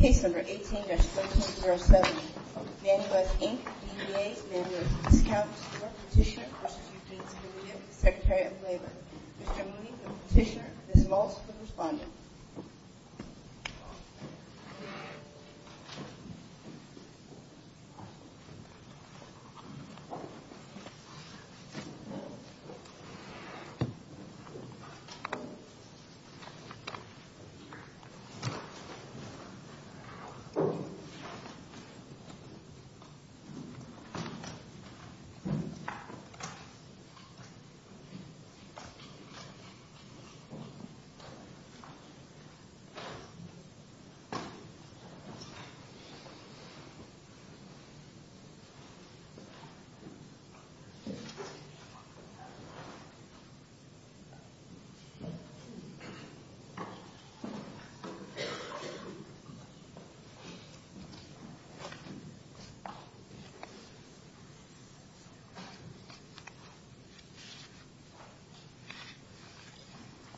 Case number 18-1307, Nanua's, Inc. v. EDA, Nanua's Discounts, Court Petitioner v. Eugene Scalia, Secretary of Labor. Mr. Mooney, the Petitioner, Ms. Maltz, the Respondent. Mr. Mooney, the Petitioner, Ms. Maltz, the Respondent.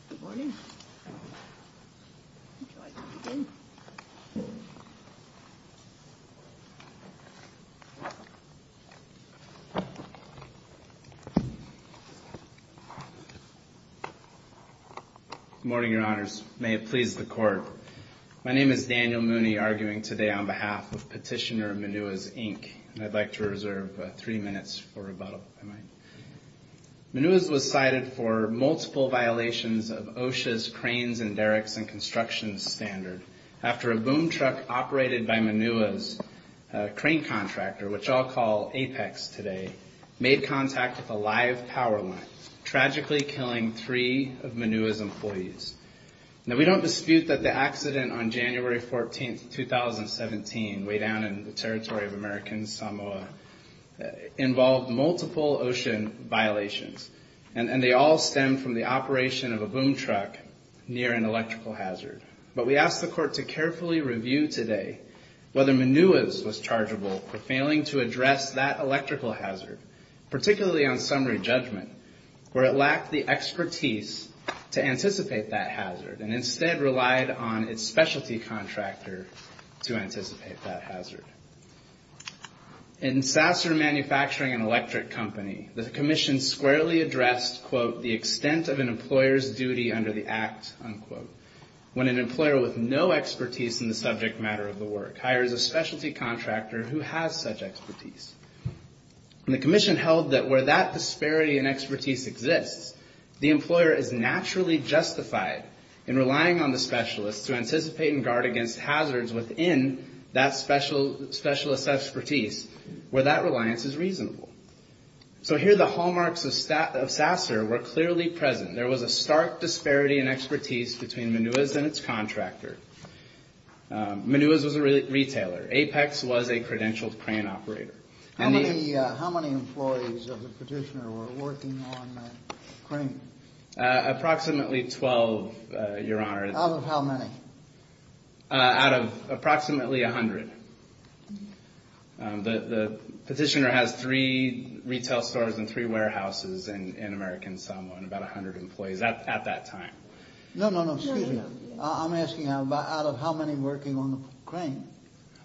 Good morning. Good morning, Your Honors. May it please the Court. My name is Daniel Mooney, arguing today on behalf of Petitioner, Manua's, Inc. And I'd like to reserve three minutes for rebuttal, if I might. Manua's was cited for multiple violations of OSHA's Cranes and Derricks and Construction Standard after a boom truck operated by Manua's crane contractor, which I'll call Apex today, made contact with a live power line, tragically killing three of Manua's employees. Now, we don't dispute that the accident on January 14, 2017, way down in the territory of American Samoa, involved multiple OSHA violations. And they all stemmed from the operation of a boom truck near an electrical hazard. But we ask the Court to carefully review today whether Manua's was chargeable for failing to address that electrical hazard, particularly on summary judgment, where it lacked the expertise to anticipate that hazard In Sasser Manufacturing and Electric Company, the commission squarely addressed, quote, the extent of an employer's duty under the act, unquote, when an employer with no expertise in the subject matter of the work hires a specialty contractor who has such expertise. And the commission held that where that disparity in expertise exists, the hazards within that specialist expertise, where that reliance is reasonable. So here the hallmarks of Sasser were clearly present. There was a stark disparity in expertise between Manua's and its contractor. Manua's was a retailer. Apex was a credentialed crane operator. How many employees of the petitioner were working on the crane? Approximately 12, Your Honor. Out of how many? Out of approximately 100. The petitioner has three retail stores and three warehouses in American Samoa, and about 100 employees at that time. No, no, no. Excuse me. I'm asking out of how many working on the crane.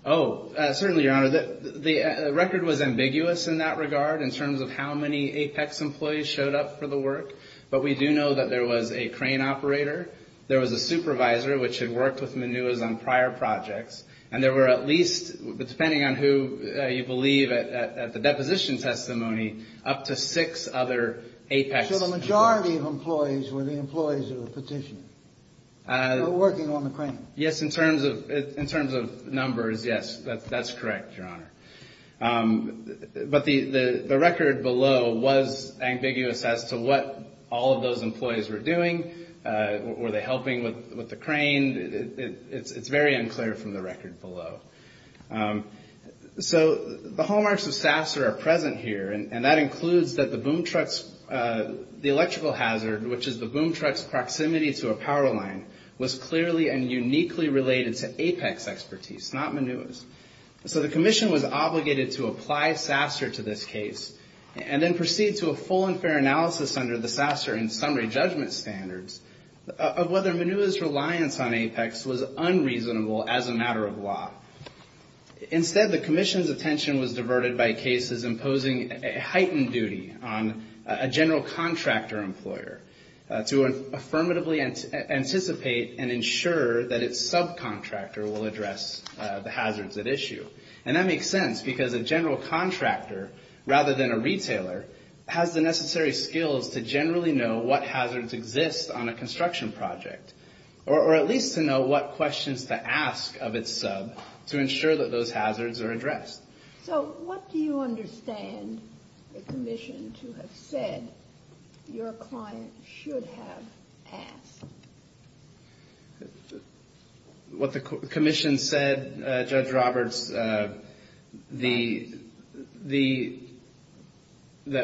Oh, certainly, Your Honor. The record was ambiguous in that regard in terms of how many Apex employees showed up for the work. But we do know that there was a crane operator. There was a supervisor, which had worked with Manua's on prior projects. And there were at least, depending on who you believe at the deposition testimony, up to six other Apex employees. So the majority of employees were the employees of the petitioner who were working on the crane. Yes, in terms of numbers, yes. That's correct, Your Honor. But the record below was ambiguous as to what all of those employees were doing. Were they helping with the crane? It's very unclear from the record below. So the hallmarks of SASR are present here, and that includes that the boom truck's electrical hazard, which is the boom truck's proximity to a power line, was clearly and uniquely related to Apex expertise, not Manua's. So the commission was obligated to apply SASR to this case and then proceed to a full and fair analysis under the SASR and summary judgment standards of whether Manua's reliance on Apex was unreasonable as a matter of law. Instead, the commission's attention was diverted by cases imposing a heightened duty on a general contractor employer to affirmatively anticipate and ensure that its subcontractor will address the hazards at issue. And that makes sense because a general contractor, rather than a retailer, has the necessary skills to generally know what hazards exist on a construction project, or at least to know what questions to ask of its sub to ensure that those hazards are addressed. So what do you understand the commission to have said your client should have asked? What the commission said, Judge Roberts, that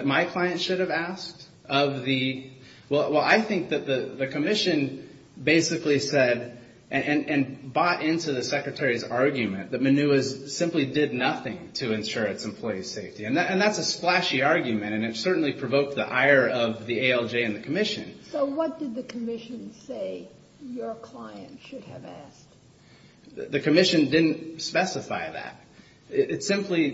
my client should have asked? Well, I think that the commission basically said, and bought into the Secretary's argument, that Manua simply did nothing to ensure its employees' safety. And that's a splashy argument, and it certainly provoked the ire of the ALJ and the commission. So what did the commission say your client should have asked? The commission didn't specify that. It simply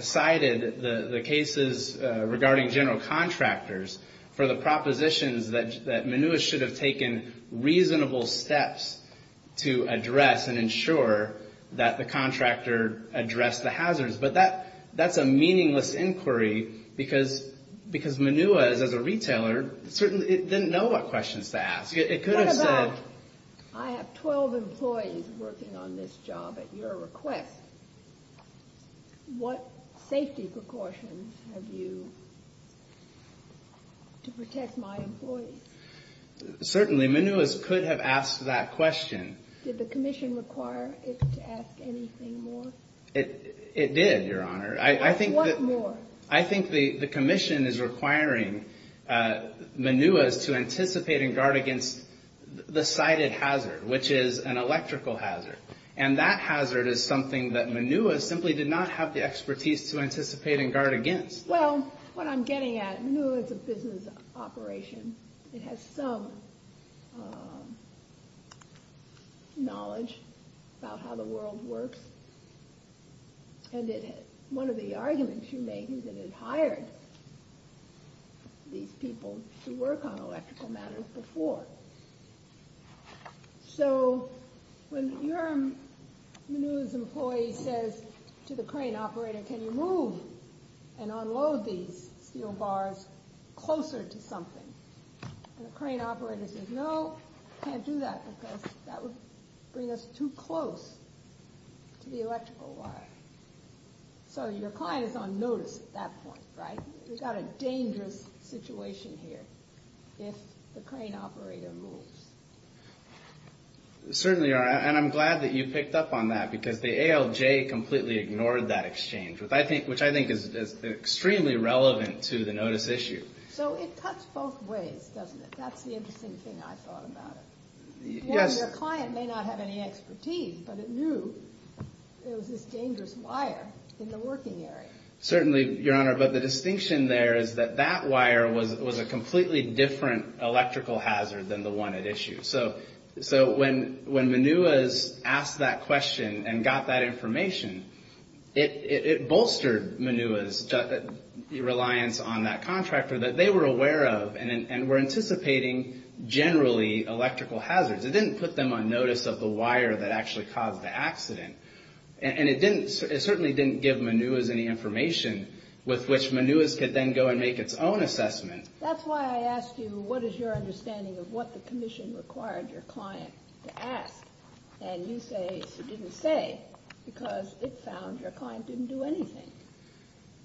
cited the cases regarding general contractors for the propositions that Manua should have taken reasonable steps to address and ensure that the contractor addressed the hazards. But that's a meaningless inquiry because Manua, as a retailer, certainly didn't know what questions to ask. What about, I have 12 employees working on this job at your request. What safety precautions have you, to protect my employees? Certainly, Manua could have asked that question. Did the commission require it to ask anything more? It did, Your Honor. What more? I think the commission is requiring Manua to anticipate and guard against the cited hazard, which is an electrical hazard. And that hazard is something that Manua simply did not have the expertise to anticipate and guard against. Well, what I'm getting at, Manua is a business operation. It has some knowledge about how the world works. And one of the arguments you make is that it hired these people to work on electrical matters before. So when your Manua's employee says to the crane operator, Can you move and unload these steel bars closer to something? And the crane operator says, No, I can't do that because that would bring us too close to the electrical wire. So your client is on notice at that point, right? We've got a dangerous situation here if the crane operator moves. Certainly, Your Honor. And I'm glad that you picked up on that because the ALJ completely ignored that exchange, which I think is extremely relevant to the notice issue. So it cuts both ways, doesn't it? That's the interesting thing I thought about it. One, your client may not have any expertise, but it knew it was this dangerous wire in the working area. Certainly, Your Honor. But the distinction there is that that wire was a completely different electrical hazard than the one it issued. So when Manua's asked that question and got that information, it bolstered Manua's reliance on that contractor that they were aware of and were anticipating generally electrical hazards. It didn't put them on notice of the wire that actually caused the accident. And it certainly didn't give Manua's any information with which Manua's could then go and make its own assessment. That's why I asked you what is your understanding of what the commission required your client to ask. And you say it didn't say because it found your client didn't do anything.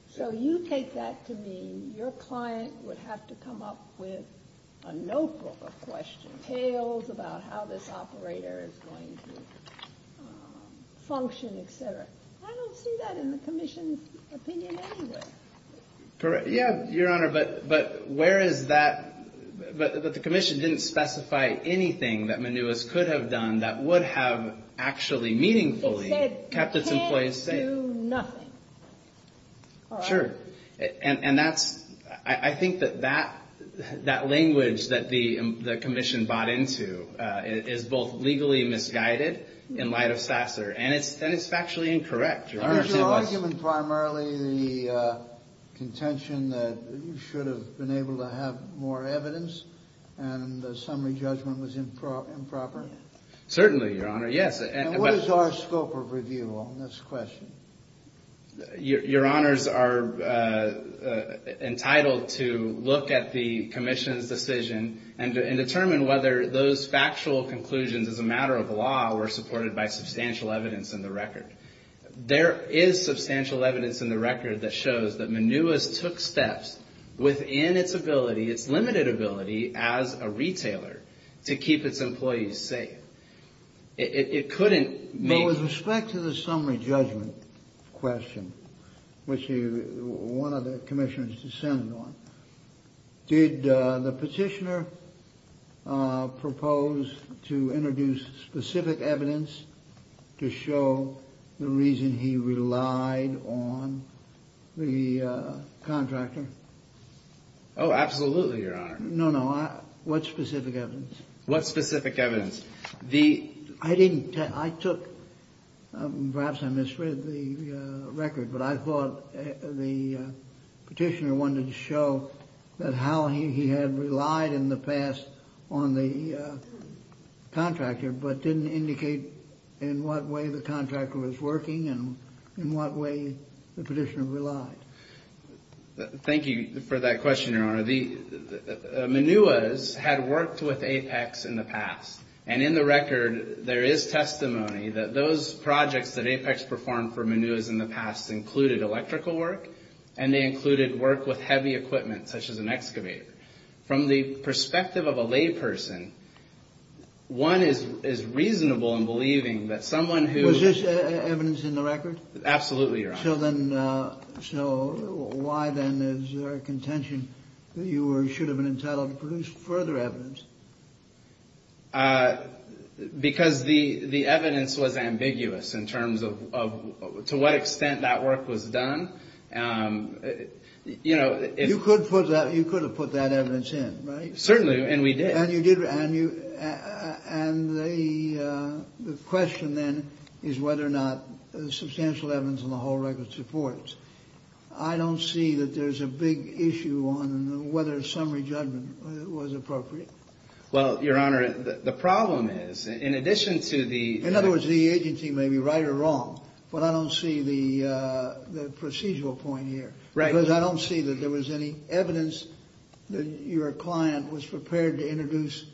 So you take that to mean your client would have to come up with a notebook of questions, tales about how this operator is going to function, et cetera. I don't see that in the commission's opinion anyway. Yeah, Your Honor. But where is that? But the commission didn't specify anything that Manua's could have done that would have actually meaningfully kept its employees safe. It said can't do nothing. Sure. And that's – I think that that language that the commission bought into is both legally misguided in light of Sasser, and it's factually incorrect. Is your argument primarily the contention that you should have been able to have more evidence and the summary judgment was improper? Certainly, Your Honor, yes. And what is our scope of review on this question? Your Honors are entitled to look at the commission's decision and determine whether those factual conclusions as a matter of law were supported by substantial evidence in the record. There is substantial evidence in the record that shows that Manua's took steps within its ability, its limited ability, as a retailer to keep its employees safe. It couldn't make – But with respect to the summary judgment question, which one of the commissioners sent it on, did the petitioner propose to introduce specific evidence to show the reason he relied on the contractor? Oh, absolutely, Your Honor. No, no. What specific evidence? What specific evidence? I didn't – I took – perhaps I misread the record, but I thought the petitioner wanted to show that how he had relied in the past on the contractor, but didn't indicate in what way the contractor was working and in what way the petitioner relied. Thank you for that question, Your Honor. The – Manua's had worked with Apex in the past, and in the record there is testimony that those projects that Apex performed for Manua's in the past included electrical work, and they included work with heavy equipment, such as an excavator. From the perspective of a layperson, one is reasonable in believing that someone who – Was this evidence in the record? Absolutely, Your Honor. So then – so why then is there a contention that you should have been entitled to produce further evidence? Because the evidence was ambiguous in terms of to what extent that work was done. You know, if – You could have put that evidence in, right? Certainly, and we did. And you did, and the question then is whether or not the substantial evidence in the whole record supports. I don't see that there's a big issue on whether summary judgment was appropriate. Well, Your Honor, the problem is, in addition to the – In other words, the agency may be right or wrong, but I don't see the procedural point here. Right. Because I don't see that there was any evidence that your client was prepared to introduce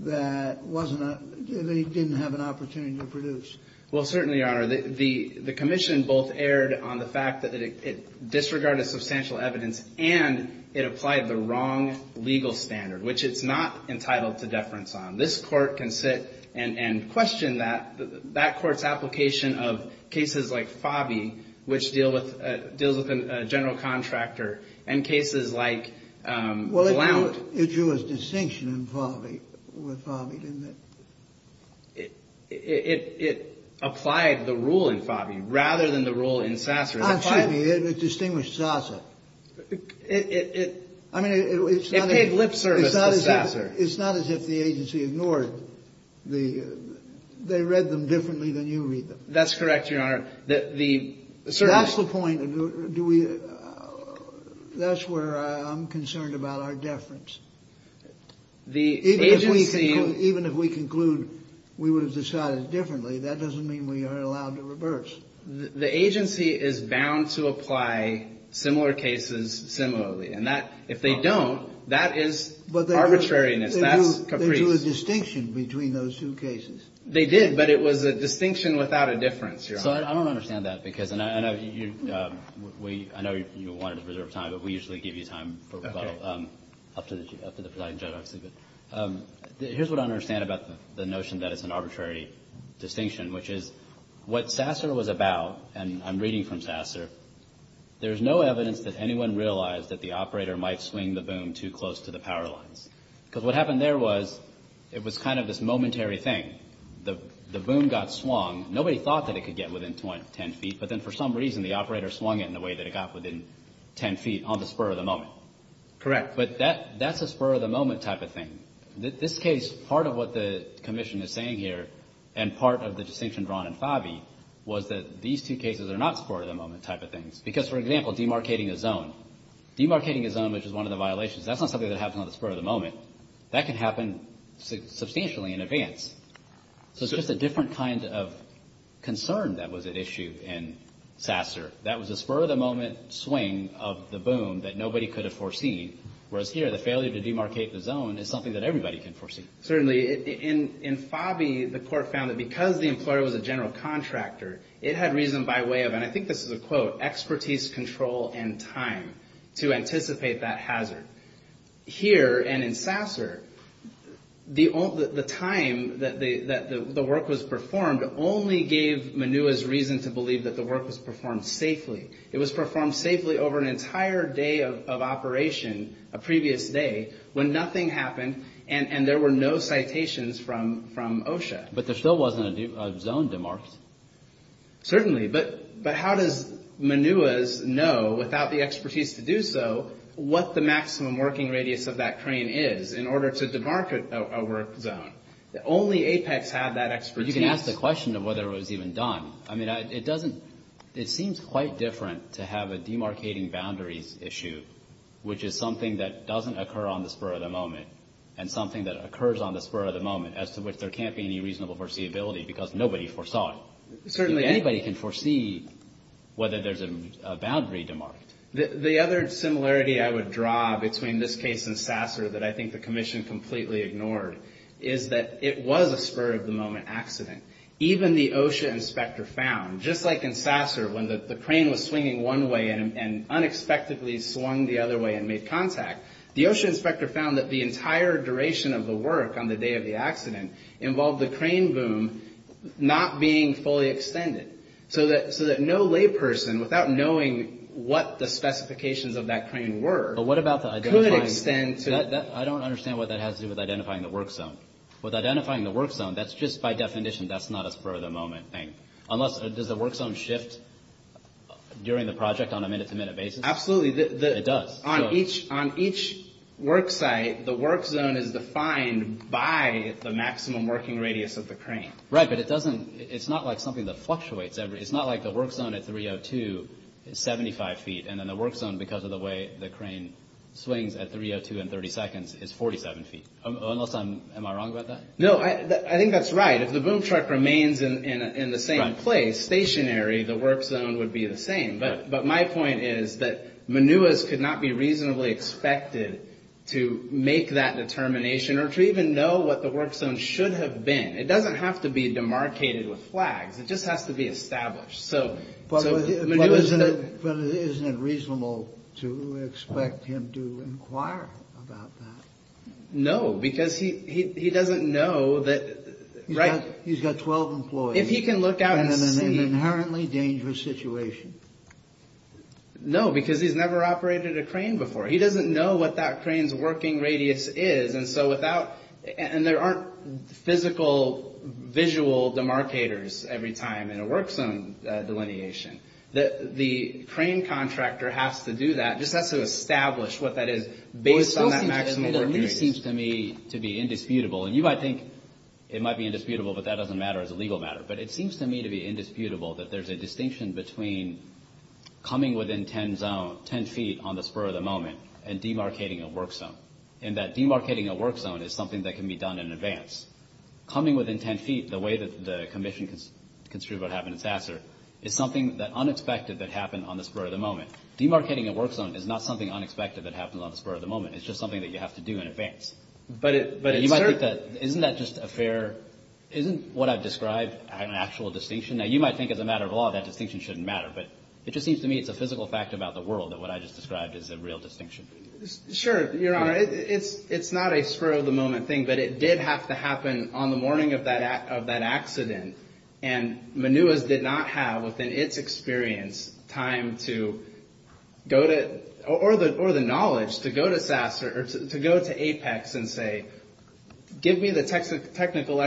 that wasn't a – they didn't have an opportunity to produce. Well, certainly, Your Honor, the commission both erred on the fact that it disregarded substantial evidence and it applied the wrong legal standard, which it's not entitled to deference on. This Court can sit and question that. That Court's application of cases like Favi, which deal with – deals with a general contractor, and cases like Blount. Well, it drew a distinction in Favi, didn't it? It applied the rule in Favi rather than the rule in Sasser. Excuse me. It distinguished Sasser. It – I mean, it's not – It paid lip service to Sasser. It's not as if the agency ignored the – they read them differently than you read them. That's correct, Your Honor. The – That's the point. Do we – that's where I'm concerned about our deference. The agency – Even if we conclude we would have decided differently, that doesn't mean we are allowed to reverse. The agency is bound to apply similar cases similarly. And that – if they don't, that is arbitrariness. That's caprice. They drew a distinction between those two cases. They did, but it was a distinction without a difference, Your Honor. So I don't understand that because – and I know you – I know you wanted to reserve time, but we usually give you time for rebuttal. Okay. Up to the presiding judge, obviously. Here's what I don't understand about the notion that it's an arbitrary distinction, which is what Sasser was about, and I'm reading from Sasser, there's no evidence that anyone realized that the operator might swing the boom too close to the power lines. Because what happened there was it was kind of this momentary thing. The boom got swung. Nobody thought that it could get within 10 feet, but then for some reason the operator swung it in the way that it got within 10 feet on the spur of the moment. Correct. But that's a spur of the moment type of thing. This case, part of what the commission is saying here and part of the distinction drawn in Favi was that these two cases are not spur of the moment type of things. Because, for example, demarcating a zone. Demarcating a zone, which is one of the violations, that's not something that happens on the spur of the moment. That can happen substantially in advance. So it's just a different kind of concern that was at issue in Sasser. That was a spur of the moment swing of the boom that nobody could have foreseen. Whereas here, the failure to demarcate the zone is something that everybody can foresee. Certainly. In Favi, the court found that because the employer was a general contractor, it had reason by way of, and I think this is a quote, expertise, control, and time to anticipate that hazard. Here and in Sasser, the time that the work was performed only gave Minua's reason to believe that the work was performed safely. It was performed safely over an entire day of operation, a previous day, when nothing happened and there were no citations from OSHA. But there still wasn't a zone demarcated. Certainly. But how does Minua's know, without the expertise to do so, what the maximum working radius of that crane is in order to demarcate a work zone? Only Apex had that expertise. Well, you can ask the question of whether it was even done. I mean, it doesn't – it seems quite different to have a demarcating boundaries issue, which is something that doesn't occur on the spur of the moment and something that occurs on the spur of the moment, as to which there can't be any reasonable foreseeability because nobody foresaw it. Certainly. Anybody can foresee whether there's a boundary demarked. The other similarity I would draw between this case and Sasser that I think the Commission completely ignored is that it was a spur-of-the-moment accident. Even the OSHA inspector found, just like in Sasser, when the crane was swinging one way and unexpectedly swung the other way and made contact, the OSHA inspector found that the entire duration of the work on the day of the accident involved the crane boom not being fully extended. So that no layperson, without knowing what the specifications of that crane were, could extend to – With identifying the work zone, that's just by definition. That's not a spur-of-the-moment thing. Unless – does the work zone shift during the project on a minute-to-minute basis? Absolutely. It does. On each work site, the work zone is defined by the maximum working radius of the crane. Right, but it doesn't – it's not like something that fluctuates. It's not like the work zone at 3.02 is 75 feet, and then the work zone, because of the way the crane swings at 3.02 and 30 seconds, is 47 feet. Unless I'm – am I wrong about that? No, I think that's right. If the boom truck remains in the same place, stationary, the work zone would be the same. But my point is that Manuas could not be reasonably expected to make that determination or to even know what the work zone should have been. It doesn't have to be demarcated with flags. It just has to be established. But isn't it reasonable to expect him to inquire about that? No, because he doesn't know that – He's got 12 employees. If he can look out and see – And in an inherently dangerous situation. No, because he's never operated a crane before. He doesn't know what that crane's working radius is, and so without – and there aren't physical, visual demarcators every time in a work zone delineation. The crane contractor has to do that, just has to establish what that is based on that maximum work radius. Well, it still seems to me to be indisputable. And you might think it might be indisputable, but that doesn't matter as a legal matter. But it seems to me to be indisputable that there's a distinction between coming within 10 feet on the spur of the moment and demarcating a work zone, in that demarcating a work zone is something that can be done in advance. Coming within 10 feet, the way that the commission construed what happened in Sasser, is something unexpected that happened on the spur of the moment. Demarcating a work zone is not something unexpected that happens on the spur of the moment. It's just something that you have to do in advance. But it's – Isn't that just a fair – isn't what I've described an actual distinction? Now, you might think as a matter of law that distinction shouldn't matter, but it just seems to me it's a physical fact about the world that what I just described is a real distinction. Sure, Your Honor. It's not a spur of the moment thing, but it did have to happen on the morning of that accident. And Mnoua's did not have, within its experience, time to go to – or the knowledge to go to Sasser or to go to Apex and say, give me the technical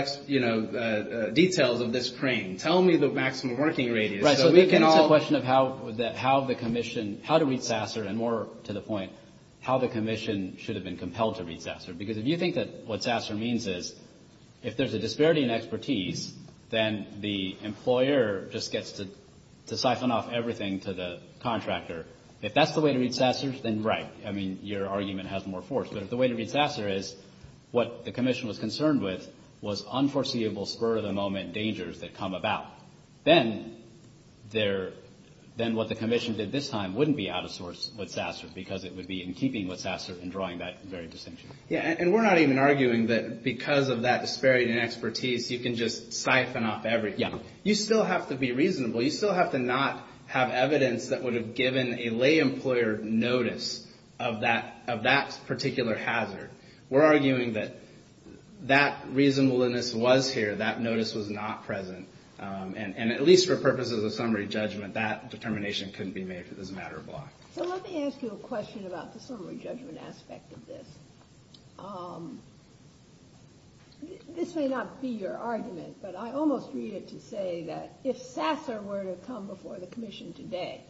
details of this crane. Tell me the maximum working radius. Right. So we can all – It's a question of how the commission – how to read Sasser, and more to the point, how the commission should have been compelled to read Sasser. Because if you think that what Sasser means is, if there's a disparity in expertise, then the employer just gets to siphon off everything to the contractor. If that's the way to read Sasser, then right. I mean, your argument has more force. But if the way to read Sasser is what the commission was concerned with was unforeseeable spur-of-the-moment dangers that come about, then what the commission did this time wouldn't be out of sorts with Sasser because it would be in keeping with Sasser and drawing that very distinction. Yeah, and we're not even arguing that because of that disparity in expertise, you can just siphon off everything. You still have to be reasonable. You still have to not have evidence that would have given a lay employer notice of that particular hazard. We're arguing that that reasonableness was here. That notice was not present. And at least for purposes of summary judgment, that determination couldn't be made for this matter of law. So let me ask you a question about the summary judgment aspect of this. This may not be your argument, but I almost read it to say that if Sasser were to come before the commission today,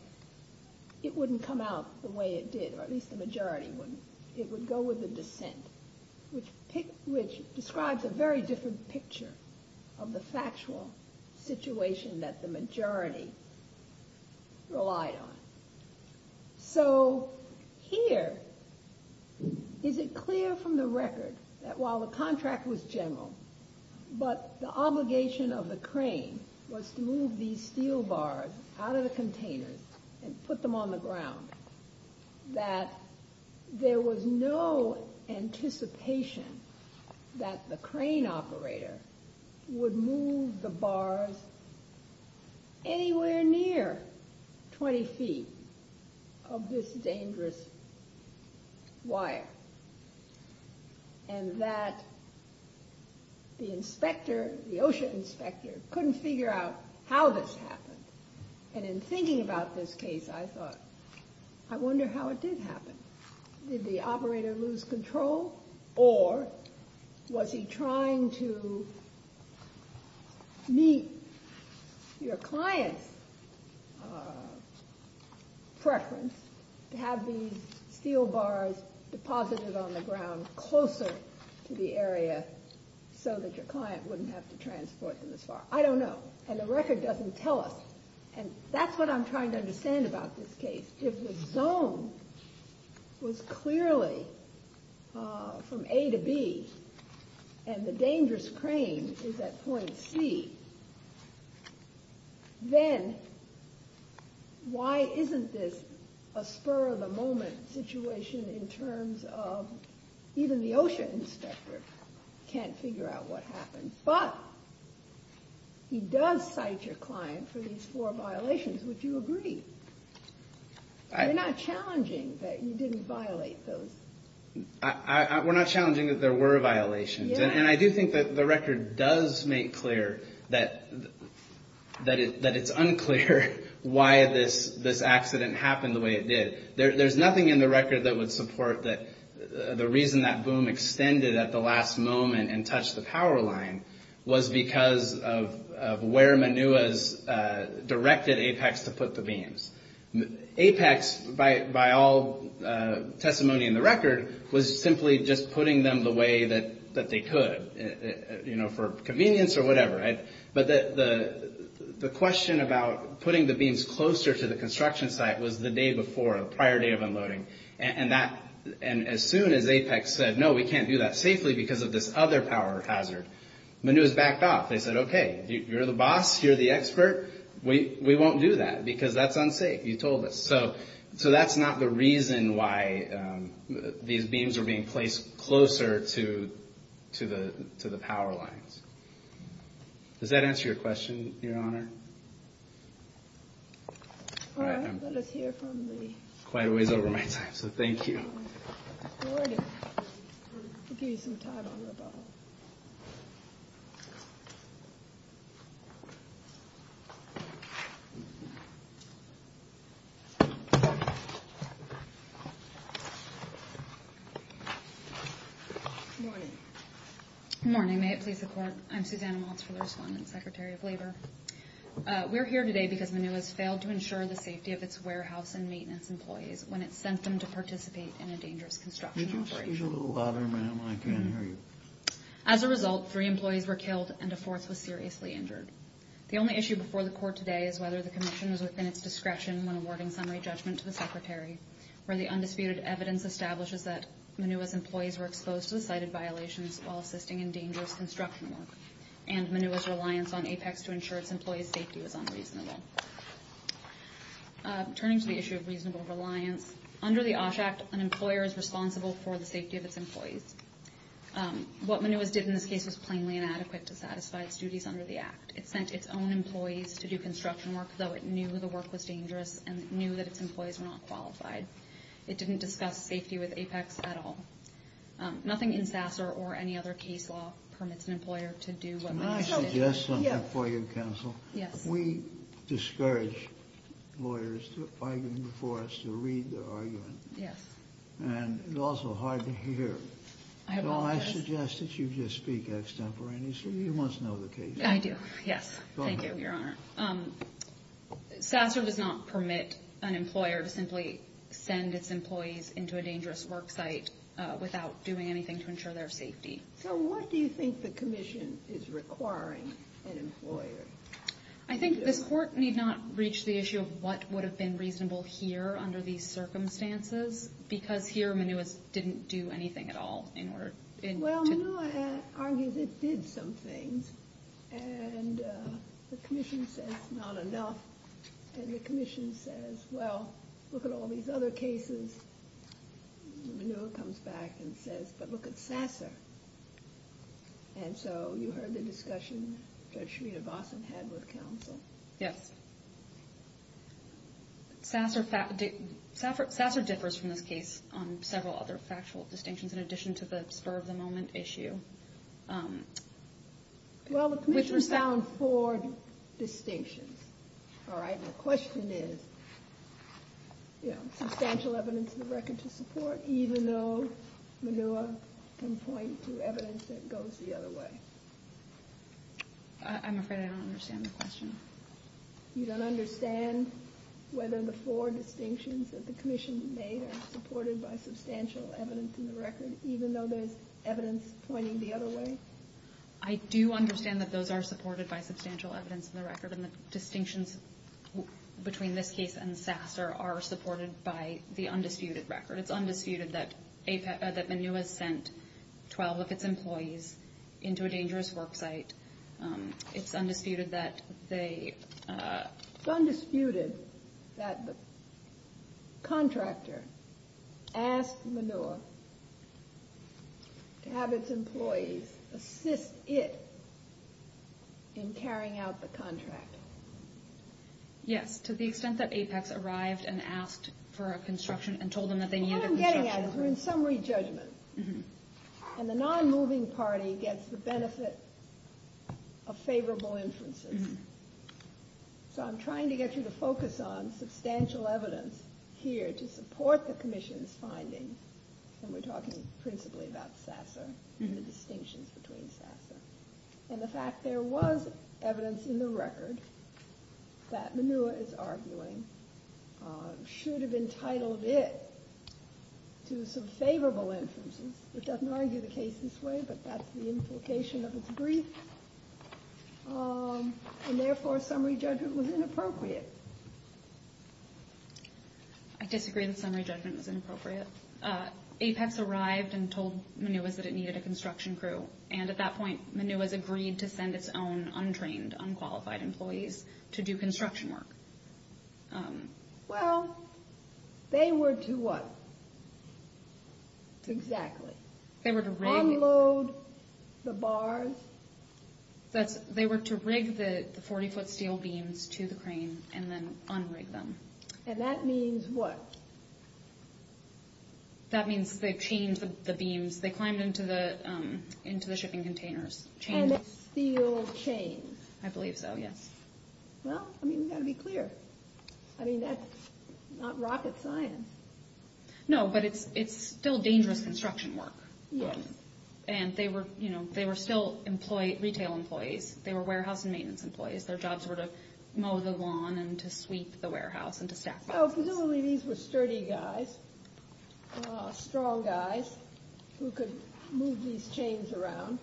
it wouldn't come out the way it did, or at least the majority wouldn't. It would go with the dissent, which describes a very different picture of the factual situation that the majority relied on. So here, is it clear from the record that while the contract was general, but the obligation of the crane was to move these steel bars out of the containers and put them on the ground, that there was no anticipation that the crane operator would move the bars anywhere near 20 feet of this dangerous wire, and that the inspector, the OSHA inspector, couldn't figure out how this happened. And in thinking about this case, I thought, I wonder how it did happen. Did the operator lose control, or was he trying to meet your client's preference to have these steel bars deposited on the ground closer to the area so that your client wouldn't have to transport them this far? I don't know. And the record doesn't tell us. And that's what I'm trying to understand about this case. If the zone was clearly from A to B, and the dangerous crane is at point C, then why isn't this a spur-of-the-moment situation in terms of even the OSHA inspector can't figure out what happened. But he does cite your client for these four violations. Would you agree? We're not challenging that you didn't violate those. We're not challenging that there were violations. And I do think that the record does make clear that it's unclear why this accident happened the way it did. There's nothing in the record that would support that the reason that boom extended at the last moment and touched the power line was because of where Manua's directed APEX to put the beams. APEX, by all testimony in the record, was simply just putting them the way that they could, for convenience or whatever. But the question about putting the beams closer to the construction site was the day before, the prior day of unloading. And as soon as APEX said, no, we can't do that safely because of this other power hazard, Manua's backed off. They said, okay, you're the boss, you're the expert, we won't do that because that's unsafe, you told us. So that's not the reason why these beams are being placed closer to the power lines. Does that answer your question, Your Honor? All right, I'm quite a ways over my time, so thank you. Good morning, may it please the Court. I'm Susanna Waltz for the respondent secretary of labor. We're here today because Manua's failed to ensure the safety of its warehouse and maintenance employees when it sent them to participate in a dangerous construction operation. Could you speak a little louder, ma'am? I can't hear you. As a result, three employees were killed and a fourth was seriously injured. The only issue before the Court today is whether the commission was within its discretion when awarding summary judgment to the secretary, where the undisputed evidence establishes that Manua's employees were exposed to the cited violations while assisting in dangerous construction work and Manua's reliance on APEX to ensure its employees' safety was unreasonable. Turning to the issue of reasonable reliance, under the OSH Act, an employer is responsible for the safety of its employees. What Manua's did in this case was plainly inadequate to satisfy its duties under the Act. It sent its own employees to do construction work, though it knew the work was dangerous and it knew that its employees were not qualified. It didn't discuss safety with APEX at all. Nothing in Sasser or any other case law permits an employer to do what Manua did. Can I suggest something for you, counsel? Yes. We discourage lawyers to argue before us, to read their argument. Yes. And it's also hard to hear. I apologize. Don't I suggest that you just speak extemporaneously? You must know the case. I do, yes. Go ahead. Thank you, Your Honor. Sasser does not permit an employer to simply send its employees into a dangerous work site without doing anything to ensure their safety. So what do you think the commission is requiring an employer? I think this Court need not reach the issue of what would have been reasonable here under these circumstances, because here Manua didn't do anything at all in order to... Well, Manua argues it did some things, and the commission says not enough, and the commission says, well, look at all these other cases. Manua comes back and says, but look at Sasser. And so you heard the discussion Judge Schmiede-Bossen had with counsel. Yes. Sasser differs from this case on several other factual distinctions in addition to the spur-of-the-moment issue. Well, the commission found four distinctions. All right? The question is substantial evidence in the record to support, even though Manua can point to evidence that goes the other way. I'm afraid I don't understand the question. You don't understand whether the four distinctions that the commission made are supported by substantial evidence in the record, even though there's evidence pointing the other way? I do understand that those are supported by substantial evidence in the record, and the distinctions between this case and Sasser are supported by the undisputed record. It's undisputed that Manua sent 12 of its employees into a dangerous work site. It's undisputed that they- It's undisputed that the contractor asked Manua to have its employees assist it in carrying out the contract. Yes, to the extent that Apex arrived and asked for a construction and told them that they needed a construction. What I'm getting at is we're in summary judgment, and the non-moving party gets the benefit of favorable inferences. So I'm trying to get you to focus on substantial evidence here to support the commission's findings, and we're talking principally about Sasser and the distinctions between Sasser. And the fact there was evidence in the record that Manua is arguing should have entitled it to some favorable inferences. It doesn't argue the case this way, but that's the implication of its brief, and therefore summary judgment was inappropriate. I disagree that summary judgment was inappropriate. Apex arrived and told Manua that it needed a construction crew, and at that point Manua has agreed to send its own untrained, unqualified employees to do construction work. Well, they were to what? Exactly. They were to rig- Unload the bars. They were to rig the 40-foot steel beams to the crane and then unrig them. And that means what? That means they changed the beams. They climbed into the shipping containers. And it's steel chains. I believe so, yes. Well, I mean, you've got to be clear. I mean, that's not rocket science. No, but it's still dangerous construction work. Yes. And they were still retail employees. They were warehouse and maintenance employees. Their jobs were to mow the lawn and to sweep the warehouse and to stack boxes. Well, presumably these were sturdy guys, strong guys, who could move these chains around.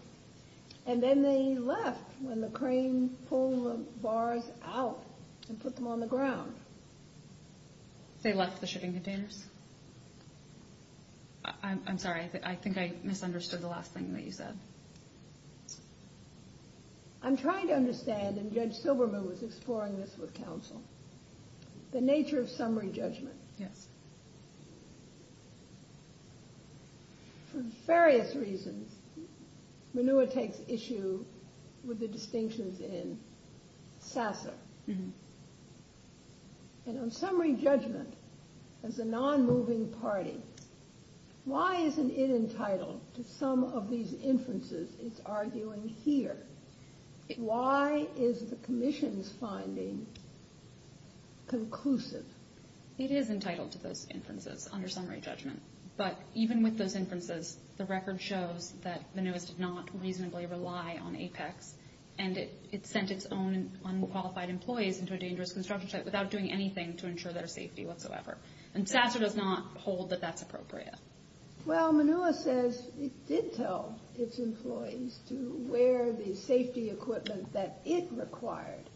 And then they left when the crane pulled the bars out and put them on the ground. They left the shipping containers? I'm sorry, I think I misunderstood the last thing that you said. I'm trying to understand, and Judge Silberman was exploring this with counsel, the nature of summary judgment. Yes. For various reasons, Minua takes issue with the distinctions in SASA. And on summary judgment, as a non-moving party, why isn't it entitled to some of these inferences it's arguing here? Why is the commission's finding conclusive? It is entitled to those inferences under summary judgment. But even with those inferences, the record shows that Minua did not reasonably rely on APEX, and it sent its own unqualified employees into a dangerous construction site without doing anything to ensure their safety whatsoever. And SASA does not hold that that's appropriate. Well, Minua says it did tell its employees to wear the safety equipment that it required.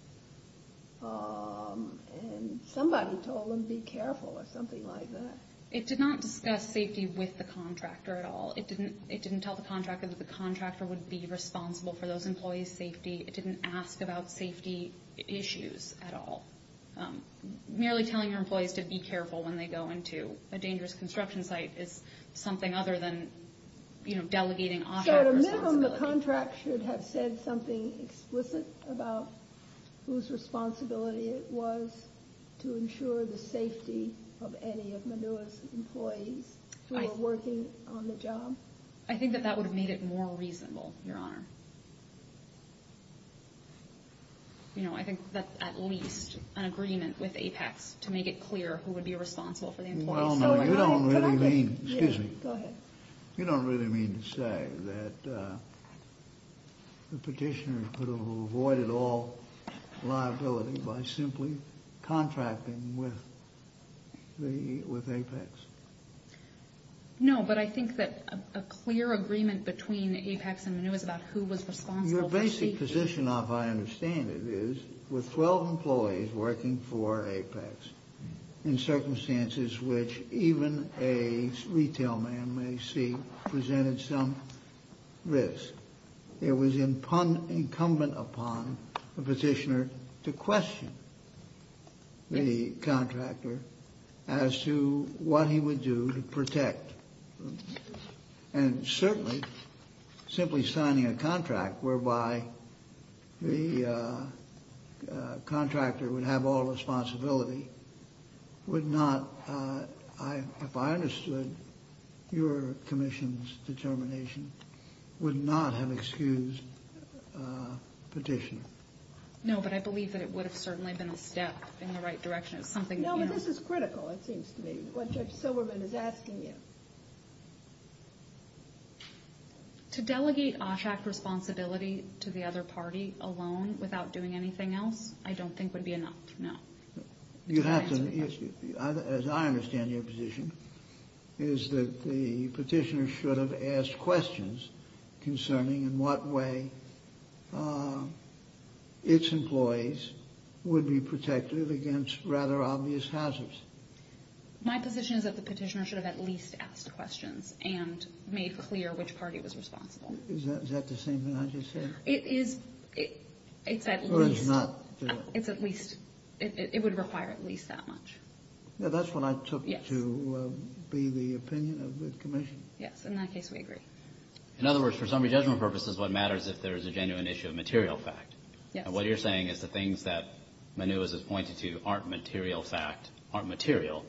And somebody told them, be careful, or something like that. It did not discuss safety with the contractor at all. It didn't tell the contractor that the contractor would be responsible for those employees' safety. It didn't ask about safety issues at all. Merely telling your employees to be careful when they go into a dangerous construction site is something other than delegating office responsibility. So at a minimum, the contract should have said something explicit about whose responsibility it was to ensure the safety of any of Minua's employees who were working on the job? I think that that would have made it more reasonable, Your Honor. You know, I think that's at least an agreement with APEX You don't really mean to say that the petitioner could have avoided all liability by simply contracting with APEX. No, but I think that a clear agreement between APEX and Minua is about who was responsible for safety. Your basic position, if I understand it, is with 12 employees working for APEX in circumstances which even a retail man may see presented some risk. It was incumbent upon the petitioner to question the contractor as to what he would do to protect. And certainly, simply signing a contract whereby the contractor would have all responsibility would not, if I understood your commission's determination, would not have excused the petitioner. No, but I believe that it would have certainly been a step in the right direction. No, but this is critical, it seems to me, what Judge Silberman is asking you. To delegate OSHAC responsibility to the other party alone, without doing anything else, I don't think would be enough, no. You have to, as I understand your position, is that the petitioner should have asked questions concerning in what way its employees would be protected against rather obvious hazards. My position is that the petitioner should have at least asked questions and made clear which party was responsible. Is that the same thing I just said? It is, it's at least, it's at least, it would require at least that much. That's what I took to be the opinion of the commission. Yes, in that case we agree. In other words, for summary judgment purposes, what matters is if there is a genuine issue of material fact. Yes. And what you're saying is the things that Manuas has pointed to aren't material fact, aren't material,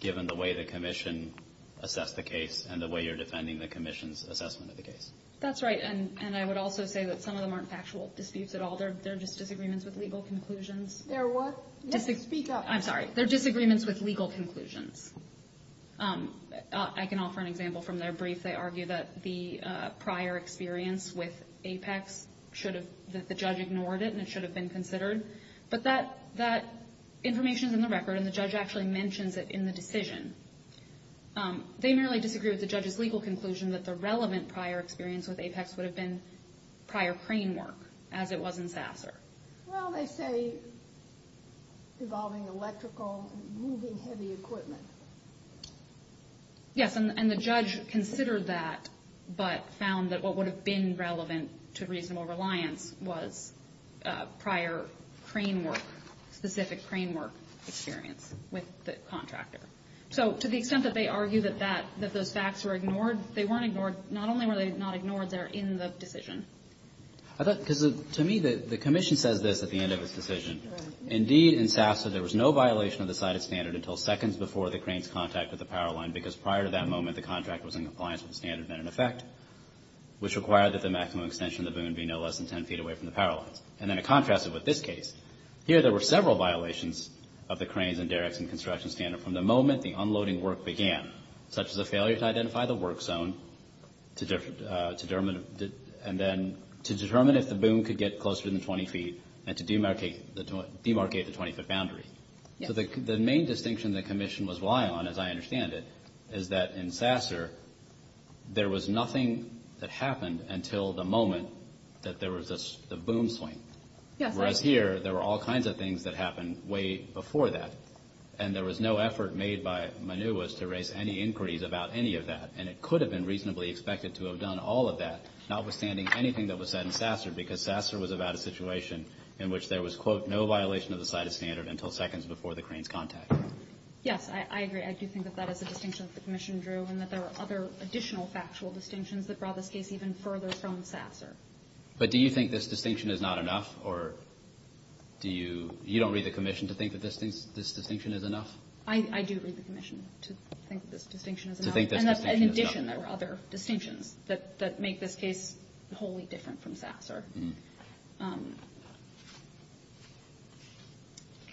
given the way the commission assessed the case and the way you're defending the commission's assessment of the case. That's right, and I would also say that some of them aren't factual disputes at all. They're just disagreements with legal conclusions. They're what? Speak up. I'm sorry. They're disagreements with legal conclusions. I can offer an example from their brief. They argue that the prior experience with Apex should have, that the judge ignored it and it should have been considered, but that information is in the record and the judge actually mentions it in the decision. They merely disagree with the judge's legal conclusion that the relevant prior experience with Apex would have been prior crane work, as it was in Sasser. Well, they say involving electrical and moving heavy equipment. Yes, and the judge considered that but found that what would have been relevant to reasonable reliance was prior crane work, specific crane work experience with the contractor. So to the extent that they argue that those facts were ignored, they weren't ignored. Not only were they not ignored, they're in the decision. To me, the commission says this at the end of its decision. Indeed, in Sasser, there was no violation of the cited standard until seconds before the crane's contact with the power line because prior to that moment, the contract was in compliance with the standard and in effect, which required that the maximum extension of the boom be no less than 10 feet away from the power lines. And then to contrast it with this case, here there were several violations of the cranes and derricks and construction standard from the moment the unloading work began, such as a failure to identify the work zone and then to determine if the boom could get closer than 20 feet and to demarcate the 20-foot boundary. So the main distinction the commission was relying on, as I understand it, is that in Sasser, there was nothing that happened until the moment that there was a boom swing. Whereas here, there were all kinds of things that happened way before that, and there was no effort made by Manuas to raise any inquiries about any of that. And it could have been reasonably expected to have done all of that, notwithstanding anything that was said in Sasser because Sasser was about a situation in which there was, quote, no violation of the cited standard until seconds before the crane's contact. Yes, I agree. I do think that that is a distinction that the commission drew and that there are other additional factual distinctions that brought this case even further from Sasser. But do you think this distinction is not enough or do you – you don't read the commission to think that this distinction is enough? I do read the commission to think this distinction is enough. To think this distinction is enough. And in addition, there were other distinctions that make this case wholly different from Sasser.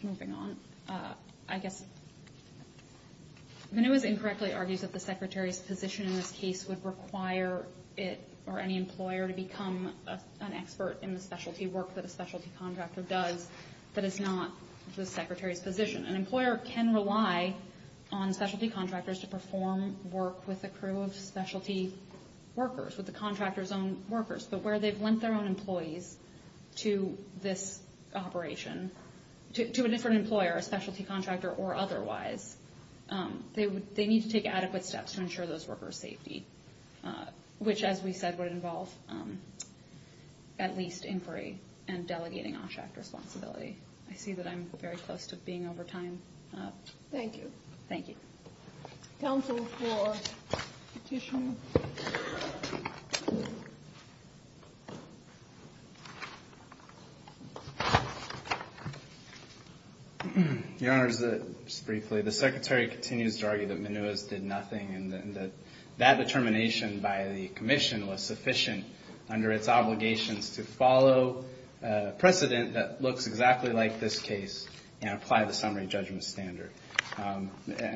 Moving on, I guess Manuas incorrectly argues that the Secretary's position in this case would require it or any employer to become an expert in the specialty work that a specialty contractor does that is not the Secretary's position. An employer can rely on specialty contractors to perform work with a crew of specialty workers, with the contractor's own workers. But where they've lent their own employees to this operation – to a different employer, a specialty contractor or otherwise, they need to take adequate steps to ensure those responsibilities. I see that I'm very close to being over time. Thank you. Thank you. Counsel for Petitioner. Your Honor, just briefly, the Secretary continues to argue that Manuas did nothing and that that determination by the commission was sufficient under its obligations to follow precedent that looks exactly like this case and apply the summary judgment standard. And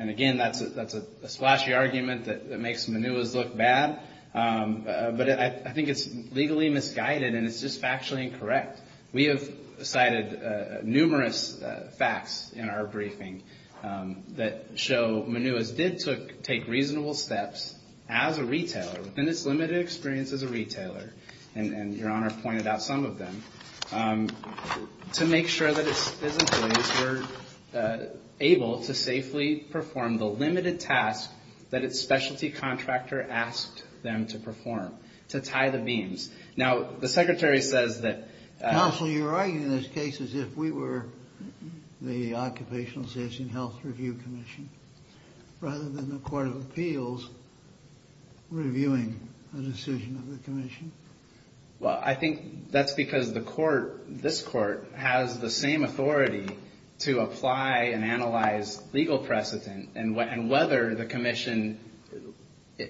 again, that's a splashy argument that makes Manuas look bad. But I think it's legally misguided and it's just factually incorrect. We have cited numerous facts in our briefing that show Manuas did take reasonable steps as a retailer, within its limited experience as a retailer, and Your Honor pointed out some of them, to make sure that its employees were able to safely perform the limited task that its specialty contractor asked them to perform, to tie the beams. Now, the Secretary says that – Counsel, you're arguing in this case as if we were the Occupational Safety and Health Review Commission rather than the Court of Appeals reviewing a decision of the commission. Well, I think that's because the court, this court, has the same authority to apply and analyze legal precedent and whether the commission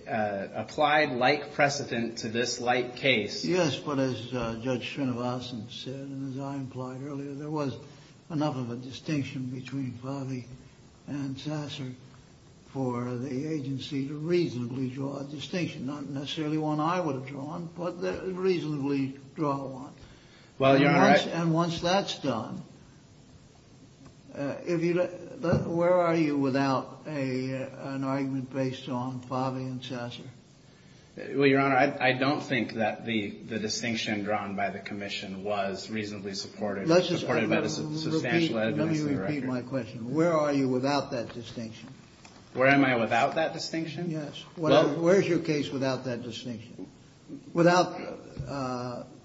applied like precedent to this like case. Yes, but as Judge Srinivasan said and as I implied earlier, there was enough of a distinction between Fave and Sasser for the agency to reasonably draw a distinction, not necessarily one I would have drawn, but reasonably draw one. And once that's done, where are you without an argument based on Fave and Sasser? Well, Your Honor, I don't think that the distinction drawn by the commission was reasonably supportive. Let me repeat my question. Where are you without that distinction? Where am I without that distinction? Yes. Where is your case without that distinction, without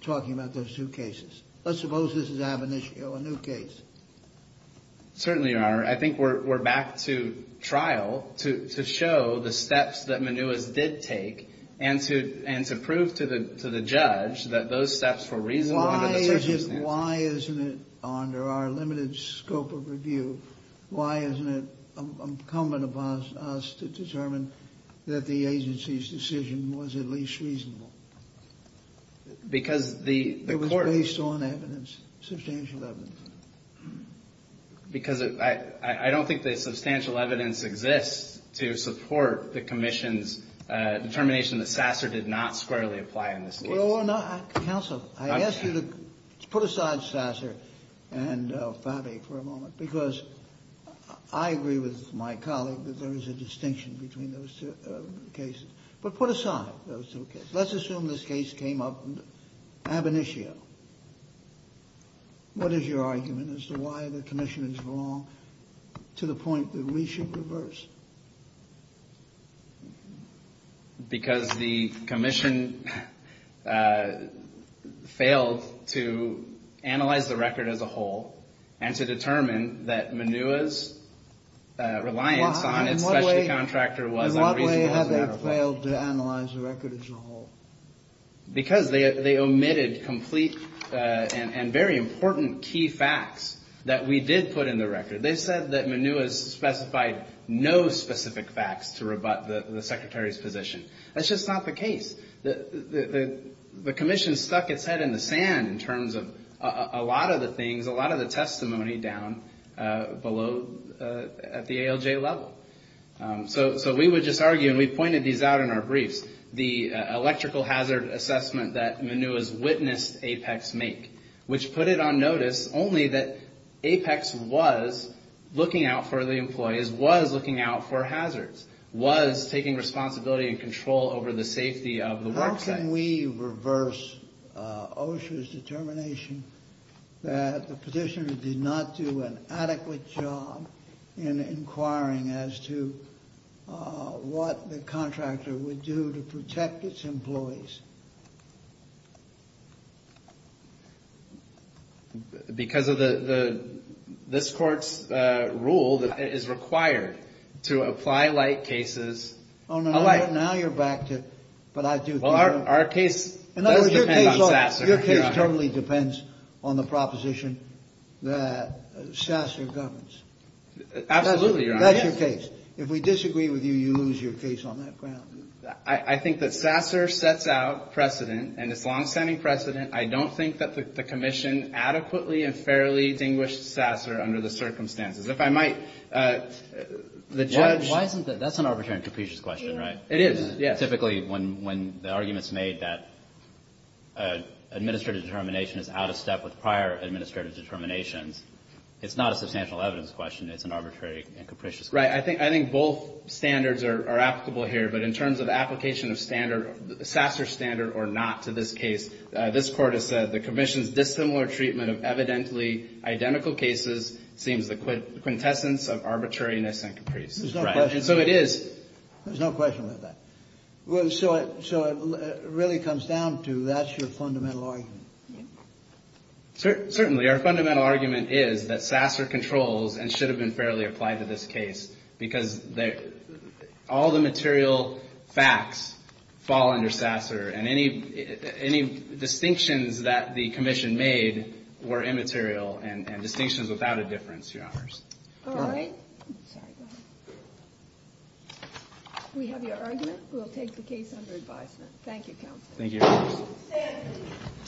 talking about those two cases? Let's suppose this is Ab initio, a new case. Certainly, Your Honor. I think we're back to trial to show the steps that Manuas did take and to prove to the judge that those steps were reasonable under the circumstances. But why isn't it, under our limited scope of review, why isn't it incumbent upon us to determine that the agency's decision was at least reasonable? Because the court... It was based on evidence, substantial evidence. Because I don't think the substantial evidence exists to support the commission's determination that Sasser did not squarely apply in this case. Your Honor, counsel, I ask you to put aside Sasser and Fave for a moment because I agree with my colleague that there is a distinction between those two cases. But put aside those two cases. Let's assume this case came up in Ab initio. What is your argument as to why the commission is wrong to the point that we should reverse? Because the commission failed to analyze the record as a whole and to determine that Manuas' reliance on its specialty contractor was unreasonable. In what way have they failed to analyze the record as a whole? Because they omitted complete and very important key facts that we did put in the record. They said that Manuas specified no specific facts to rebut the secretary's position. That's just not the case. The commission stuck its head in the sand in terms of a lot of the things, a lot of the testimony down below at the ALJ level. So we would just argue, and we pointed these out in our briefs, the electrical hazard assessment that Manuas witnessed Apex make, which put it on notice only that Apex was looking out for the employees, was looking out for hazards, was taking responsibility and control over the safety of the work site. How can we reverse OSHA's determination that the petitioner did not do an adequate job in inquiring as to what the contractor would do to protect its employees? Because of this Court's rule that it is required to apply like cases. Oh, now you're back to, but I do think. Well, our case does depend on Sasser, Your Honor. Your case totally depends on the proposition that Sasser governs. Absolutely, Your Honor. That's your case. If we disagree with you, you lose your case on that ground. I think that Sasser sets out precedent, and it's longstanding precedent. I don't think that the commission adequately and fairly distinguished Sasser under the circumstances. If I might, the judge. Why isn't that? That's an arbitrary and capricious question, right? It is, yes. Typically, when the argument's made that administrative determination is out of step with prior administrative determinations, it's not a substantial evidence question. It's an arbitrary and capricious question. Right. I think both standards are applicable here, but in terms of application of Sasser standard or not to this case, this Court has said, the commission's dissimilar treatment of evidently identical cases seems the quintessence of arbitrariness and capricious. There's no question. So it is. There's no question about that. So it really comes down to that's your fundamental argument. Certainly. Our fundamental argument is that Sasser controls and should have been fairly applied to this case because all the material facts fall under Sasser, and any distinctions that the commission made were immaterial and distinctions without a difference, Your Honors. All right. Sorry, go ahead. We have your argument. We'll take the case under advisement. Thank you, Counsel. Thank you, Your Honors.